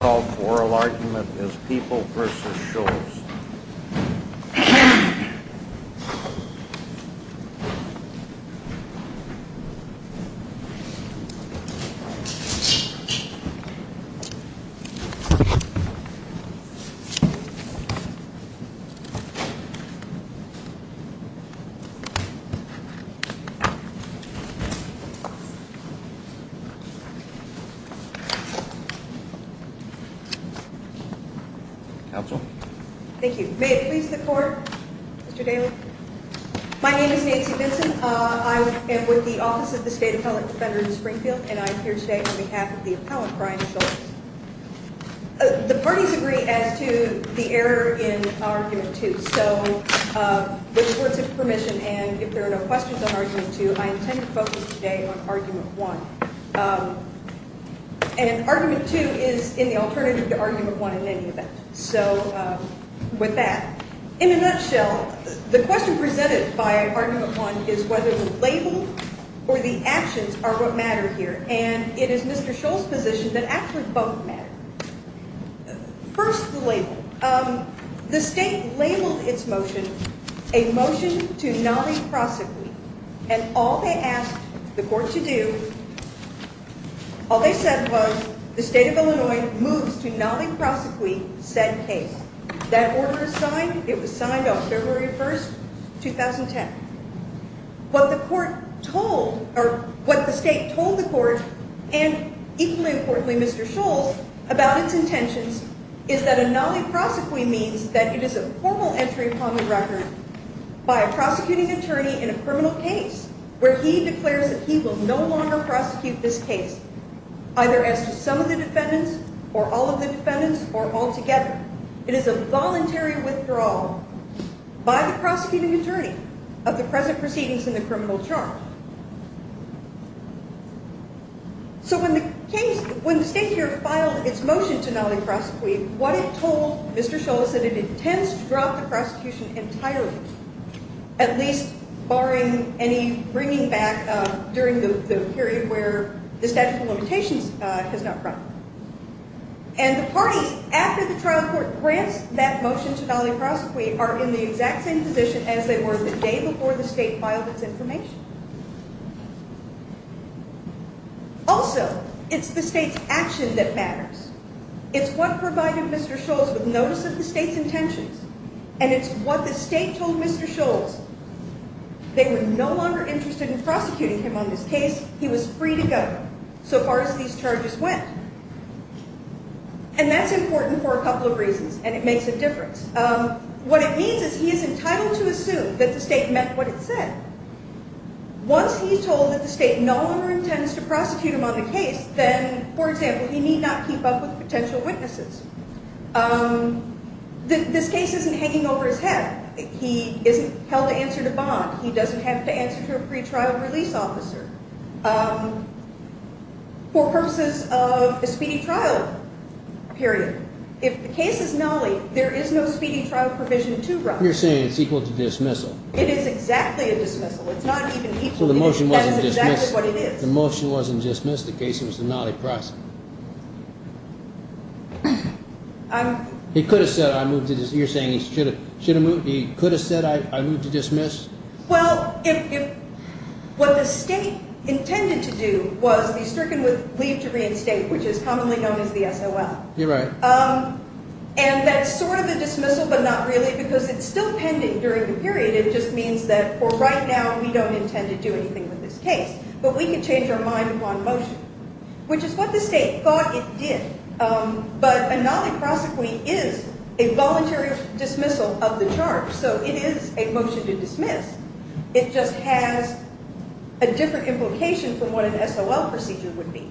The moral argument is people v. Scholes. May it please the Court, Mr. Daly? My name is Nancy Vinson. I am with the Office of the State Appellate Defender in Springfield, and I am here today on behalf of the appellant, Brian Scholes. The parties agree as to the error in Argument 2, so with the Court's permission and if there are no questions on Argument 2, I intend to focus today on Argument 1. And Argument 2 is in the alternative to Argument 1 in any event. So, with that, in a nutshell, the question presented by Argument 1 is whether the label or the actions are what matter here, and it is Mr. Scholes' position that actually both matter. First, the label. The State labeled its motion a motion to not prosecute, and all they asked the Court to do, all they said was the State of Illinois moves to not prosecute said case. That order was signed. It was signed on February 1, 2010. What the Court told, or what the State told the Court, and equally importantly, Mr. Scholes, about its intentions, is that a non-prosecution means that it is a formal entry upon the record by a prosecuting attorney in a criminal case where he declares that he will no longer prosecute this case, either as to some of the defendants or all of the defendants or altogether. It is a voluntary withdrawal by the prosecuting attorney of the present proceedings in the criminal charge. So when the State here filed its motion to not prosecute, what it told Mr. Scholes is that it intends to drop the prosecution entirely, at least barring any bringing back during the period where the statute of limitations has not run. And the parties after the trial court grants that motion to not prosecute are in the exact same position as they were the day before the State filed its information. Also, it's the State's action that matters. It's what provided Mr. Scholes with notice of the State's intentions, and it's what the State told Mr. Scholes. They were no longer interested in prosecuting him on this case. He was free to go, so far as these charges went. And that's important for a couple of reasons, and it makes a difference. What it means is he is entitled to assume that the State meant what it said. Once he's told that the State no longer intends to prosecute him on the case, then, for example, he need not keep up with potential witnesses. This case isn't hanging over his head. He isn't held to answer to bond. He doesn't have to answer to a pretrial release officer for purposes of a speedy trial period. If the case is gnarly, there is no speedy trial provision to run. You're saying it's equal to dismissal. It is exactly a dismissal. It's not even equal. So the motion wasn't dismissed. That is exactly what it is. The motion wasn't dismissed. The case was a gnarly process. He could have said, you're saying he could have said, I move to dismiss? Well, what the State intended to do was be stricken with leave to reinstate, which is commonly known as the SOL. You're right. And that's sort of a dismissal, but not really, because it's still pending during the period. It just means that for right now, we don't intend to do anything with this case. But we can change our mind upon motion, which is what the State thought it did. But a gnarly prosecution is a voluntary dismissal of the charge. So it is a motion to dismiss. It just has a different implication from what an SOL procedure would be.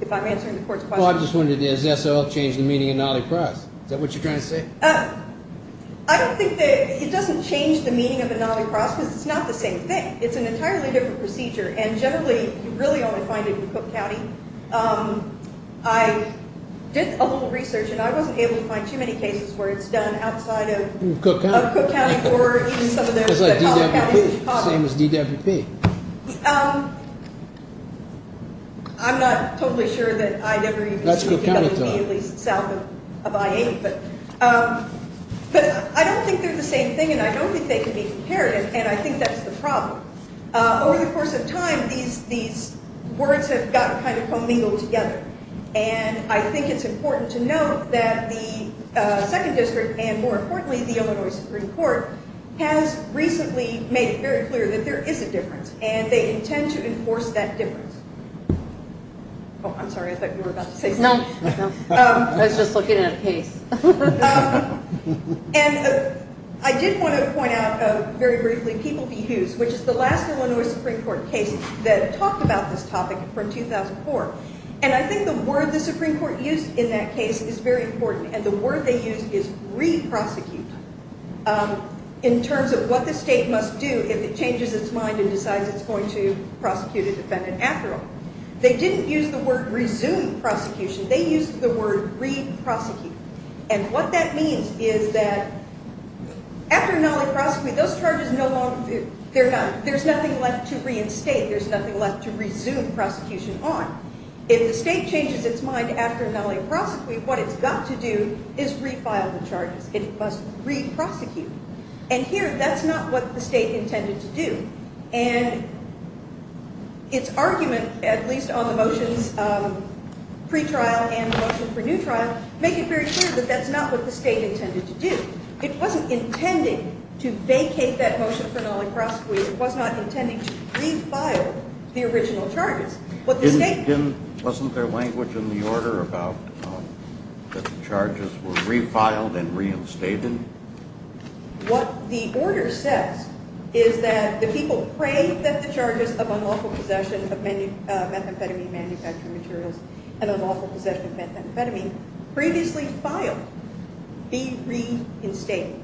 If I'm answering the Court's question. Well, I just wondered, does SOL change the meaning of gnarly process? Is that what you're trying to say? I don't think that it doesn't change the meaning of a gnarly process. It's not the same thing. It's an entirely different procedure, and generally, you really only find it in Cook County. I did a little research, and I wasn't able to find too many cases where it's done outside of Cook County. It's like DWP. Same as DWP. I'm not totally sure that I'd ever even seen DWP at least south of I-8. But I don't think they're the same thing, and I don't think they can be comparative, and I think that's the problem. Over the course of time, these words have gotten kind of commingled together, and I think it's important to note that the 2nd District, and more importantly, the Illinois Supreme Court, has recently made it very clear that there is a difference, and they intend to enforce that difference. Oh, I'm sorry, I thought you were about to say something. No, I was just looking at a case. And I did want to point out, very briefly, People v. Hughes, which is the last Illinois Supreme Court case that talked about this topic from 2004, and I think the word the Supreme Court used in that case is very important, and the word they used is re-prosecute, in terms of what the state must do if it changes its mind and decides it's going to prosecute a defendant after all. They didn't use the word resume prosecution. They used the word re-prosecute, and what that means is that, after not only prosecute, those charges no longer, they're done. There's nothing left to reinstate. There's nothing left to resume prosecution on. If the state changes its mind after not only prosecute, what it's got to do is refile the charges. It must re-prosecute. And here, that's not what the state intended to do, and its argument, at least on the motions pre-trial and the motion for new trial, make it very clear that that's not what the state intended to do. It wasn't intending to vacate that motion for not only prosecute. It was not intending to refile the original charges. Wasn't there language in the order about the charges were refiled and reinstated? What the order says is that the people pray that the charges of unlawful possession of methamphetamine manufacturing materials and unlawful possession of methamphetamine previously filed be reinstated.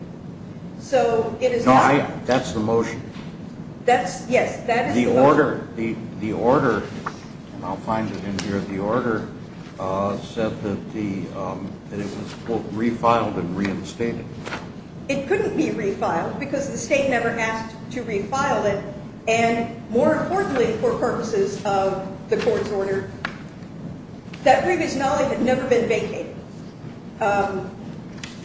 So it is not... That's the motion. Yes, that is the motion. The order, and I'll find it in here. The order said that it was, quote, refiled and reinstated. It couldn't be refiled because the state never asked to refile it. And more importantly, for purposes of the court's order, that previous knowledge had never been vacated.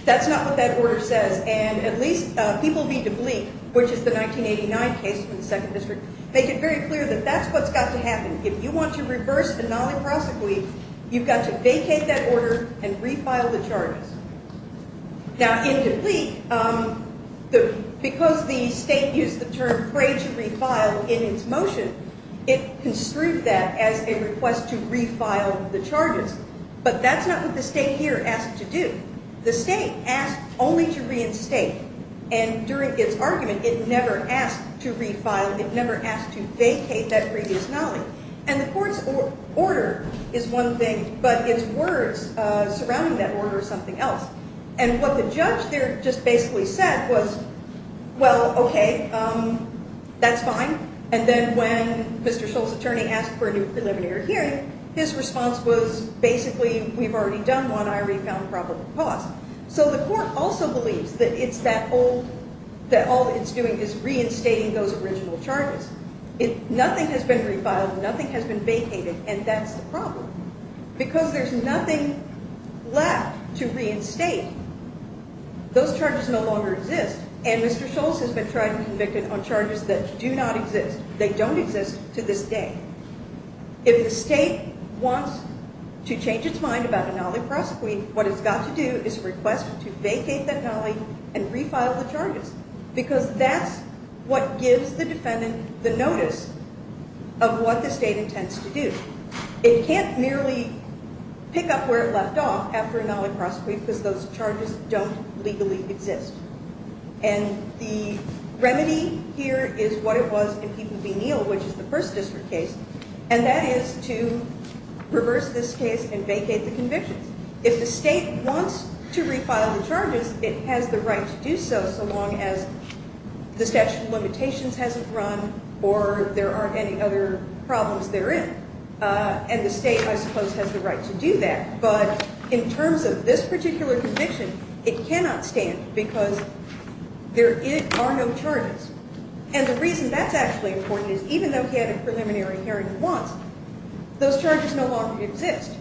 That's not what that order says. And at least people read the plea, which is the 1989 case in the 2nd District, make it very clear that that's what's got to happen. If you want to reverse the Nali Prosecution, you've got to vacate that order and refile the charges. Now, in the plea, because the state used the term pray to refile in its motion, it construed that as a request to refile the charges. But that's not what the state here asked to do. The state asked only to reinstate. And during its argument, it never asked to refile. It never asked to vacate that previous knowledge. And the court's order is one thing, but its words surrounding that order is something else. And what the judge there just basically said was, well, okay, that's fine. And then when Mr. Scholl's attorney asked for a new preliminary hearing, his response was, basically, we've already done one. I already found a probable cause. So the court also believes that it's that old, that all it's doing is reinstating those original charges. Nothing has been refiled. Nothing has been vacated. And that's the problem. Because there's nothing left to reinstate. Those charges no longer exist. And Mr. Scholl's has been tried and convicted on charges that do not exist. They don't exist to this day. If the state wants to change its mind about a Nali Prosecution, what it's got to do is request to vacate that Nali and refile the charges. Because that's what gives the defendant the notice of what the state intends to do. It can't merely pick up where it left off after a Nali Prosecution because those charges don't legally exist. And the remedy here is what it was in People v. Neal, which is the 1st District case, and that is to reverse this case and vacate the convictions. If the state wants to refile the charges, it has the right to do so, so long as the statute of limitations hasn't run or there aren't any other problems therein. And the state, I suppose, has the right to do that. But in terms of this particular conviction, it cannot stand because there are no charges. And the reason that's actually important is even though he had a preliminary hearing once, those charges no longer exist.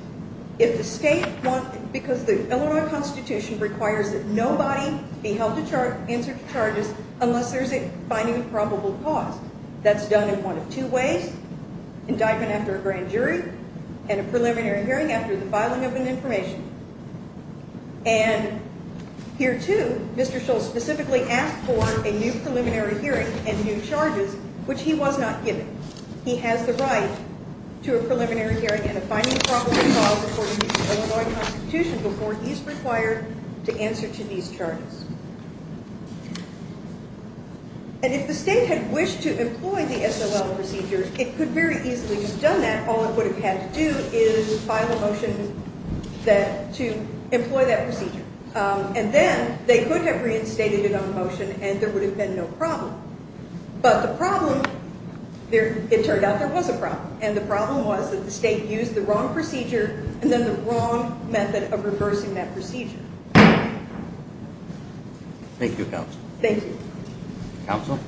Because the Illinois Constitution requires that nobody be held to answer to charges unless there's a finding of probable cause. That's done in one of two ways. Indictment after a grand jury and a preliminary hearing after the filing of an information. And here, too, Mr. Shull specifically asked for a new preliminary hearing and new charges, which he was not given. He has the right to a preliminary hearing and a finding of probable cause according to the Illinois Constitution before he's required to answer to these charges. And if the state had wished to employ the SOL procedure, it could very easily have done that. All it would have had to do is file a motion to employ that procedure. And then they could have reinstated it on the motion and there would have been no problem. But the problem, it turned out there was a problem. And the problem was that the state used the wrong procedure and then the wrong method of reversing that procedure. Thank you, Counsel. Thank you. Counsel?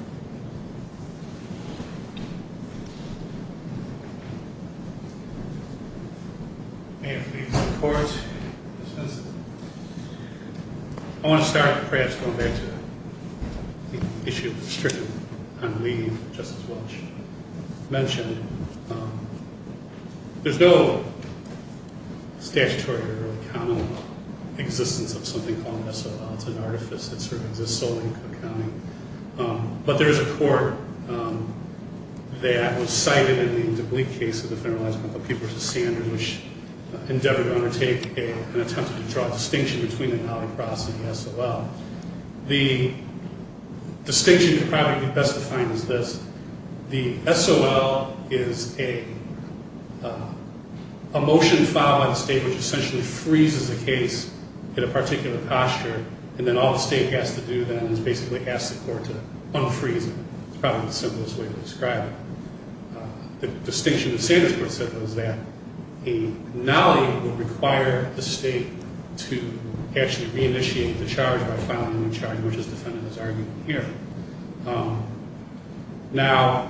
May it please the Court. Mr. Benson. I want to start with a prayer. It's going back to the issue of the strip and Lee, Justice Welch, mentioned. There's no statutory or really common existence of something called SOL. It's an artifice that sort of exists solely in Cook County. But there is a court that was cited in the DeBlea case of the Federalized Medical Papers of Standards which endeavored to undertake an attempt to draw a distinction between the Nali process and the SOL. The distinction probably best defined is this. The SOL is a motion filed by the state which essentially freezes a case in a particular posture and then all the state has to do then is basically ask the court to unfreeze it. It's probably the simplest way to describe it. The distinction the standards court set was that a Nali would require the state to actually reinitiate the charge by filing a new charge which is defended as argued here. Now,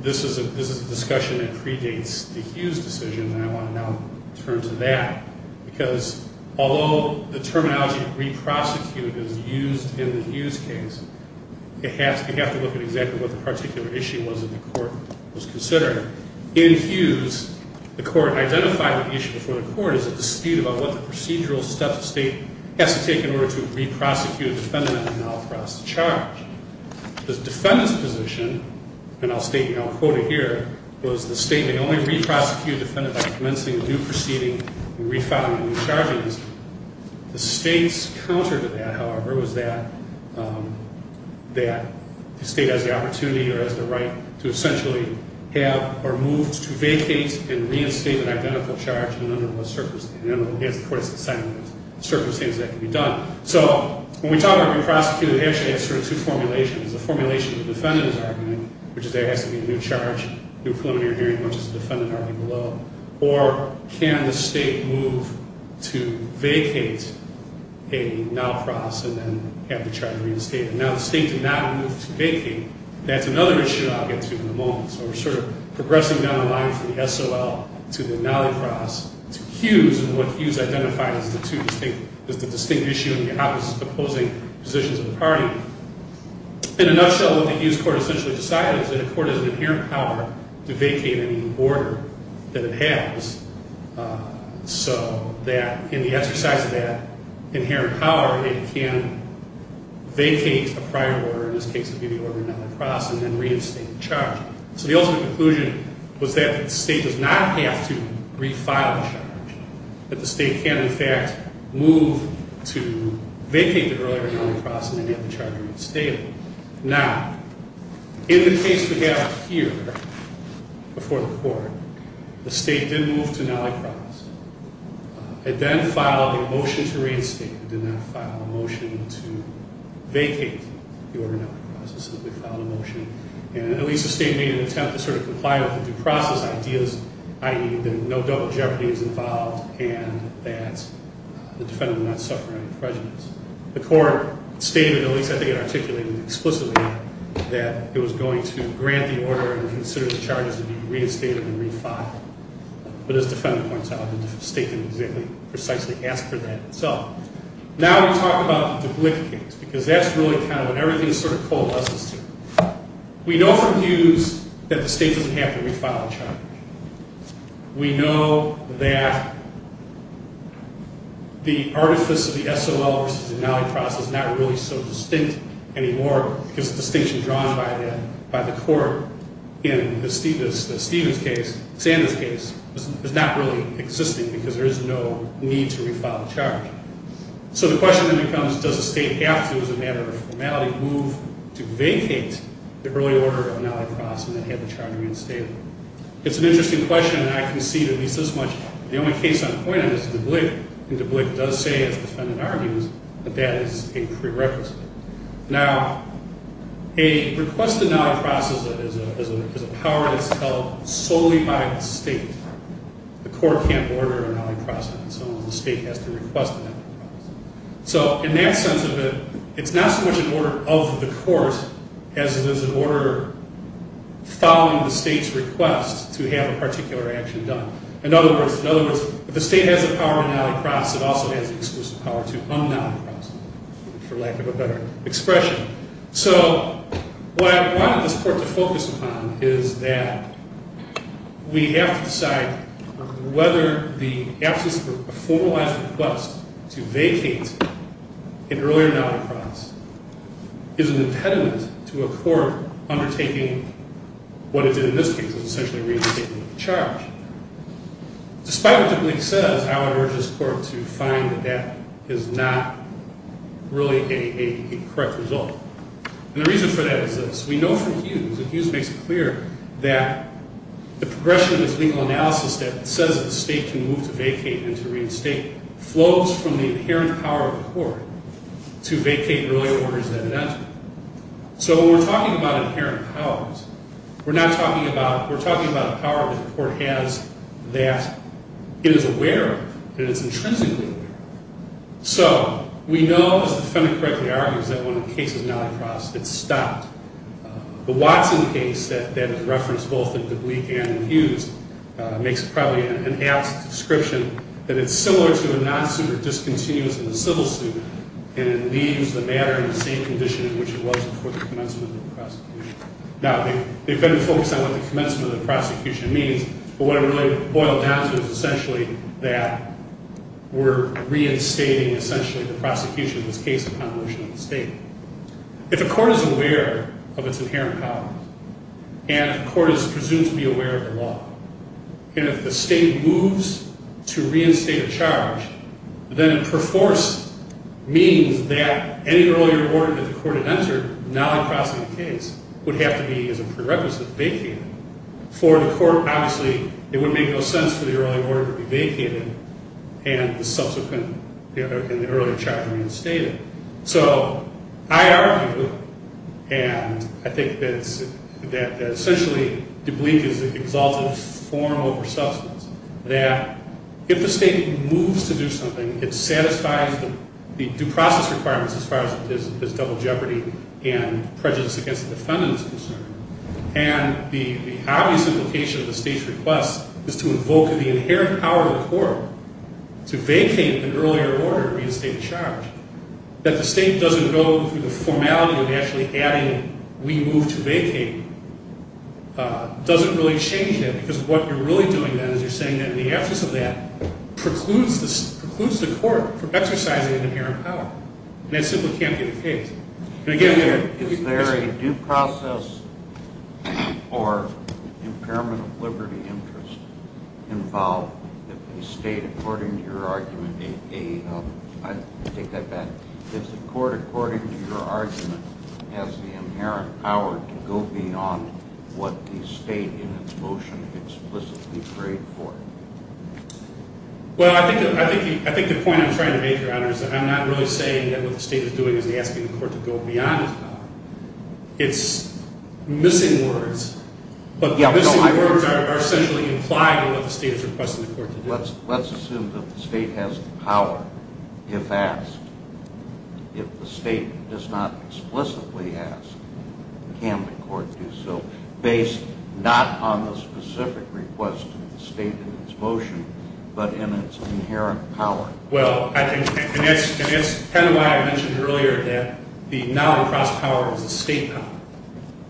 this is a discussion that predates the Hughes decision and I want to now turn to that because although the terminology re-prosecute is used in the Hughes case, you have to look at exactly what the particular issue was that the court was considering. In Hughes, the court identified the issue before the court as a dispute about what the procedural steps the state has to take in order to re-prosecute a defendant on the Nali process charge. The defendant's position, and I'll state it, and I'll quote it here, was the state may only re-prosecute a defendant by commencing a new proceeding and re-filing the new charges. The state's counter to that, however, was that the state has the opportunity or has the right to essentially have or move to vacate and reinstate an identical charge under what circumstances. The court has to decide under what circumstances that can be done. So when we talk about re-prosecute, it actually has sort of two formulations. The formulation of the defendant's argument, which is there has to be a new charge, new preliminary hearing, much as the defendant argued below. Or can the state move to vacate a Nali process and then have the charge reinstated? Now, the state did not move to vacate. That's another issue I'll get to in a moment. So we're sort of progressing down the line from the SOL to the Nali process. To Hughes, and what Hughes identified as the two distinct, as the distinct issue in behalf of his opposing positions in the party. In a nutshell, what the Hughes court essentially decided is that the court has an inherent power to vacate any order that it has so that in the exercise of that inherent power, it can vacate a prior order, in this case it would be the order of the Nali process, and then reinstate the charge. So the ultimate conclusion was that the state does not have to refile the charge. That the state can, in fact, move to vacate the earlier Nali process and then have the charge reinstated. Now, in the case we have here, before the court, the state did move to Nali process. It then filed a motion to reinstate. to vacate the order of Nali process. It simply filed a motion, which made an attempt to sort of comply with the due process ideas, i.e. that no double jeopardy is involved and that the defendant would not suffer any prejudice. The court stated, at least I think it articulated explicitly, that it was going to grant the order and consider the charges to be reinstated and refiled. But as the defendant points out, the state didn't exactly, precisely ask for that itself. Now we talk about the Glick case, because that's really kind of the case that the state doesn't have to refile a charge. We know that the artifice of the SOL versus the Nali process is not really so distinct anymore because the distinction drawn by the court in the Stevens case, Sanders case, is not really existing because there is no need to refile a charge. So the question then becomes, does the state have to, as a matter of formality, move to vacate the early order of Nali process and then have the charge reinstated? It's an interesting question and I concede at least as much. The only case I'm pointing to is the Glick. And the Glick does say, as the defendant argues, that that is a prerequisite. Now, a request to Nali process is a power that's held solely by the state. The court can't order a Nali process and so the state has to request an Nali process. So in that sense of it, it's not so much an order of the court as it is an order following the state's request to have a particular action done. In other words, if the state has the power to Nali process, it also has the exclusive power to un-Nali process, for lack of a better expression. So what I wanted this court to focus upon is that we have to decide whether the absence of a formalized request to vacate an earlier Nali process is an impediment to a court undertaking what it did in this case, which is essentially retaking the charge. Despite what the Glick says, I would urge this court to find that that is not really a correct result. And the reason for that is this. We know from Hughes, and Hughes makes it clear, that the progression of this legal analysis that says the state can move to vacate follows from the inherent power of the court to vacate earlier orders that it entered. So when we're talking about inherent powers, we're not talking about, we're talking about a power that the court has that it is aware of, that it's intrinsically aware of. So, we know, as the defendant correctly argues, that when the case is Nali process, it's stopped. The Watson case that is referenced both in the Glick and in Hughes makes probably an apt description that it's similar to a non-suit or discontinuous in the civil suit and it leaves the matter in the same condition in which it was before the commencement of the prosecution. Now, the defendant focused on what the commencement of the prosecution means, but what it really boiled down to is essentially that we're reinstating essentially the prosecution in this case of convolution of the state. If the court is aware of its inherent powers, and if the court is presumed to be aware of the law, to reinstate a charge, then it perforce means that any earlier order that the court had entered, Nali processing the case, would have to be, as a prerequisite, vacated. For the court, obviously, it would make no sense for the earlier order to be vacated and the subsequent, the earlier charge reinstated. So, I argue, and I think that essentially Dublique is an exalted form over substance, that if the state moves to do something, it satisfies the due process requirements as far as double jeopardy and prejudice against the defendant is concerned. And the obvious implication of the state's request is to invoke the inherent power of the court to vacate an earlier order to reinstate a charge that the state doesn't go through the formality of actually adding we move to vacate doesn't really change that because what you're really doing then is you're saying that the absence of that precludes the court from exercising an inherent power. And that simply can't be the case. And again, is there a due process or impairment of liberty interest involved if the state, according to your argument, I take that back, if the court, according to your argument, has the inherent power that the state in its motion explicitly prayed for? Well, I think the point I'm trying to make, Your Honor, is that I'm not really saying that what the state is doing is asking the court to go beyond its power. It's missing words. But the missing words are essentially implied in what the state is requesting the court to do. Let's assume that the state has the power if asked. If the state does not explicitly ask, can the court do so not on the specific request of the state in its motion but in its inherent power? Well, I think, and that's kind of why I mentioned earlier that the Nolencross power is a state power.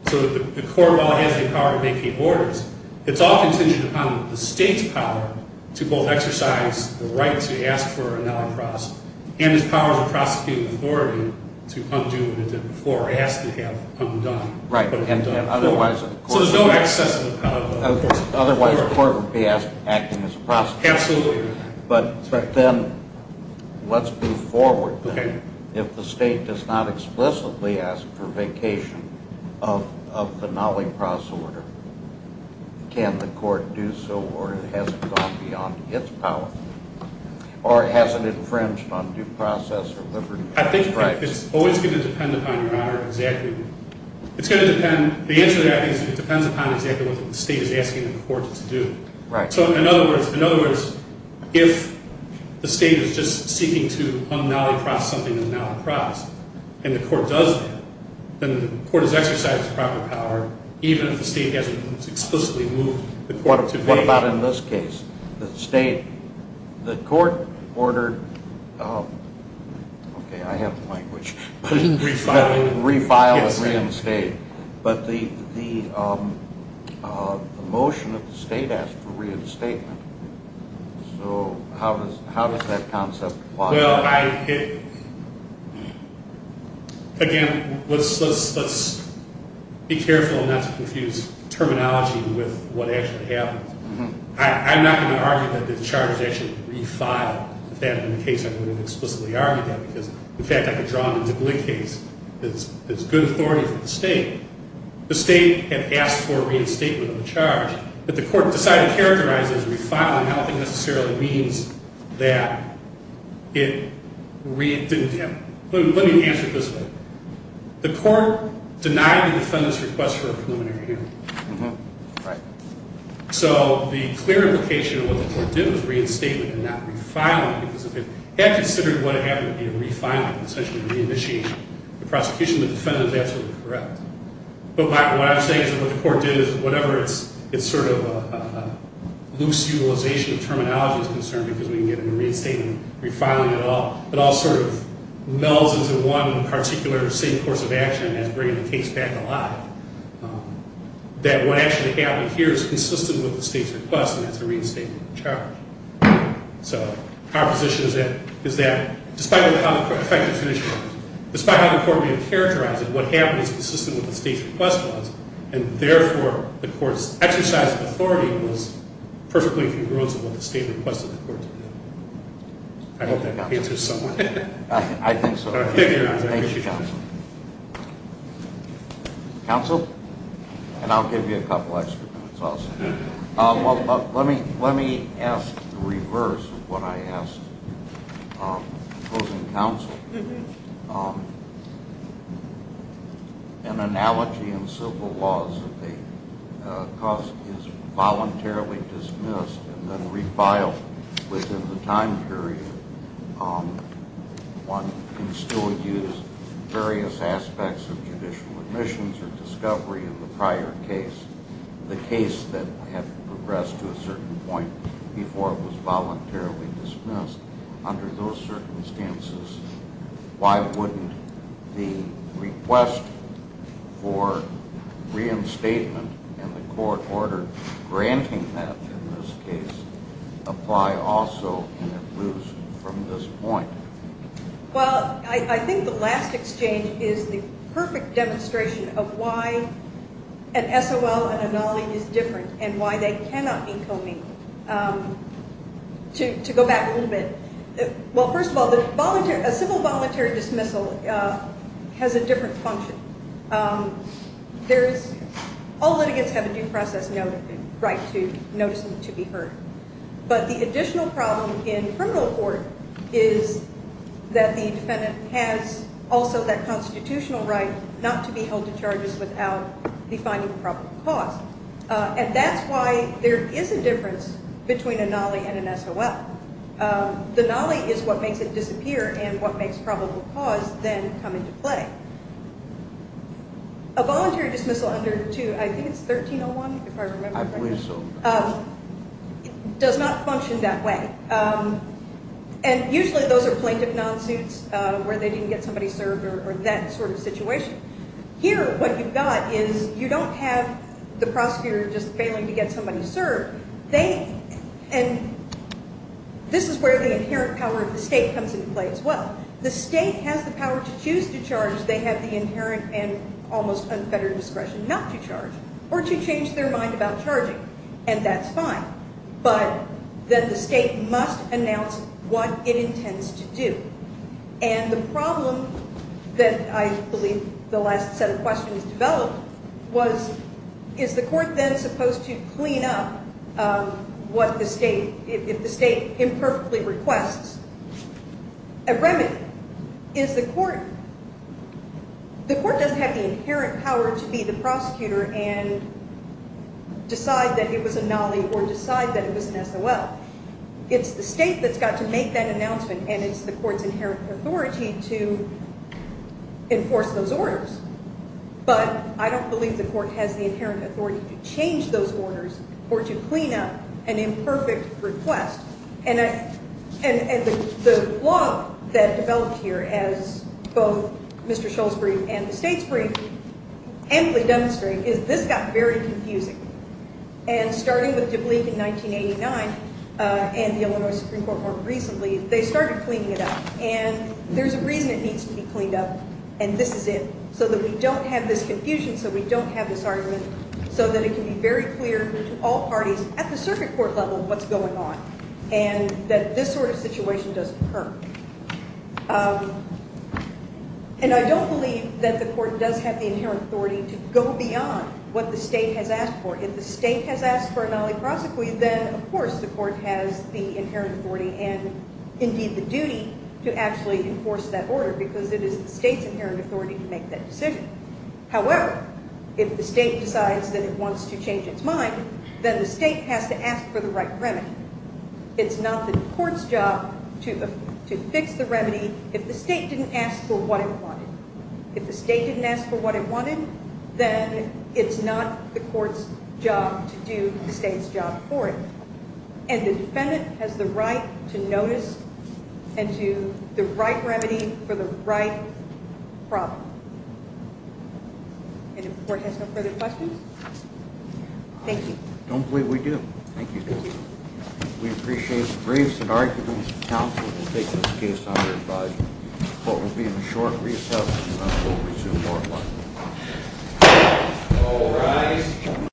So the court, while it has the power to make the orders, it's all contingent upon the state's power to both exercise the right to ask for a Nolencross and its powers of prosecuting authority to undo what it did before or ask to have undone. It's a process. Otherwise the court would be acting as a prosecutor. Absolutely. But then let's move forward. Okay. If the state does not explicitly ask for vacation of the Nolencross order, can the court do so or has it gone beyond its power? Or has it infringed on due process or liberty? I think it's always going to depend upon your honor exactly. It's going to depend, depending on what the state is asking the court to do. So in other words, if the state is just seeking to un-Nolencross something in the Nolencross and the court does that, then the court has exercised its proper power even if the state hasn't explicitly moved the court to vacation. What about in this case? The state, the court ordered, okay, I have the language, the motion that the state asked for reinstatement. So how does that concept work? Well, I, again, let's be careful not to confuse terminology with what actually happened. I'm not going to argue that the charge is actually refiled. If that had been the case, I would have explicitly argued that because the fact I could draw a duplicate is good authority for the state. The state had asked for reinstatement of the charge, but the court decided to characterize it as refiling. I don't think it necessarily means that it didn't happen. Let me answer it this way. The court denied the defendant's request for a preliminary hearing. So the clear implication of what the court did was reinstatement and not refiling because if it had considered what had happened would be correct. But what I'm saying is that what the court did is whatever it's sort of a loose utilization of terminology is concerned because we can get a reinstatement and refiling it all. It all sort of melds into one particular safe course of action and brings the case back alive. That what actually happened here is consistent with the state's request and that's a reinstatement of the charge. So the proposition is that it's consistent with the state's request was and therefore the court's exercise of authority was perfectly congruence with what the state requested the court to do. I hope that answers some of it. I think so. Thank you, counsel. Counsel? And I'll give you a couple extra minutes also. Let me ask the reverse of what I asked the opposing counsel. If an analogy in civil laws that the cost is voluntarily dismissed and then refiled within the time period, one can still use various aspects of judicial admissions or discovery of the prior case, the case that had progressed to a certain point before it was voluntarily dismissed. Under those circumstances, why wouldn't the request for reinstatement and the court order granting that in this case apply also and it moves from this point? Well, I think the last exchange is the perfect demonstration of why an SOL and an ANALI is different and why they cannot be co-meet. To go back a little bit, well, first of all, a civil voluntary dismissal has a different function. All litigants have a due process right to notice them to be heard. But the additional problem in criminal court is that the defendant has also that constitutional right not to be held to charges without defining probable cause and that's why there is a difference between ANALI and an SOL. The ANALI is what makes it difficult for the defendant to come into play. A voluntary dismissal under I think it's 1301, if I remember correctly, does not function that way. And usually those are plaintiff non-suits where they didn't get somebody served or that sort of situation. Here, what you've got is you don't have the prosecutor just failing to get somebody served. And this is where the inherent power of the state comes into play as well. The state has the power to choose to charge. They have the inherent and almost unfettered discretion not to charge or to change their mind about charging and that's fine. But then the state must announce what it intends to do. And the problem that I believe the last set of questions developed was is the court then supposed to clean up what the state, if the state imperfectly requests. A remedy is the court, the court doesn't have the inherent power to be the prosecutor and decide that it was a nollie or decide that it was an SOL. It's the state that's got to make that announcement and it's the court's inherent authority to enforce those orders. But I don't believe the court has the inherent authority to change those orders or to clean up an imperfect request. And the law that developed here as both Mr. Scholes' brief and the state's brief amply demonstrate is this got very confusing. And starting with Dublique in 1989 and the Illinois Supreme Court more recently, they started cleaning it up and there's a reason it needs to be cleaned up and this is it. So that we don't have this confusion, so we don't have this argument so that it can be very clear to all parties at the circuit court level what's going on and that this sort of situation doesn't occur. And I don't believe that the court does have the inherent authority to go beyond what the state has asked for. If the state has asked for a nollie prosecute, then of course the court has the inherent authority and indeed the duty to actually enforce that order because it is the state's inherent authority to make that decision. However, if the state decides that it wants to change its mind, then the state has to ask for the right remedy. It's not the court's job to fix the remedy if the state didn't ask for what it wanted. If the state didn't ask for what it wanted, then it's not the court's job to do the state's job for it. And the defendant has the right to notice remedy for the right problem. And the court has no further questions? Thank you. I don't believe we do have any further questions. Thank you. Thank you. Thank you. We appreciate the briefs and arguments that counsel will take this case under advisory. The court will be in a short recess and then we'll resume our part of the hearing. All rise.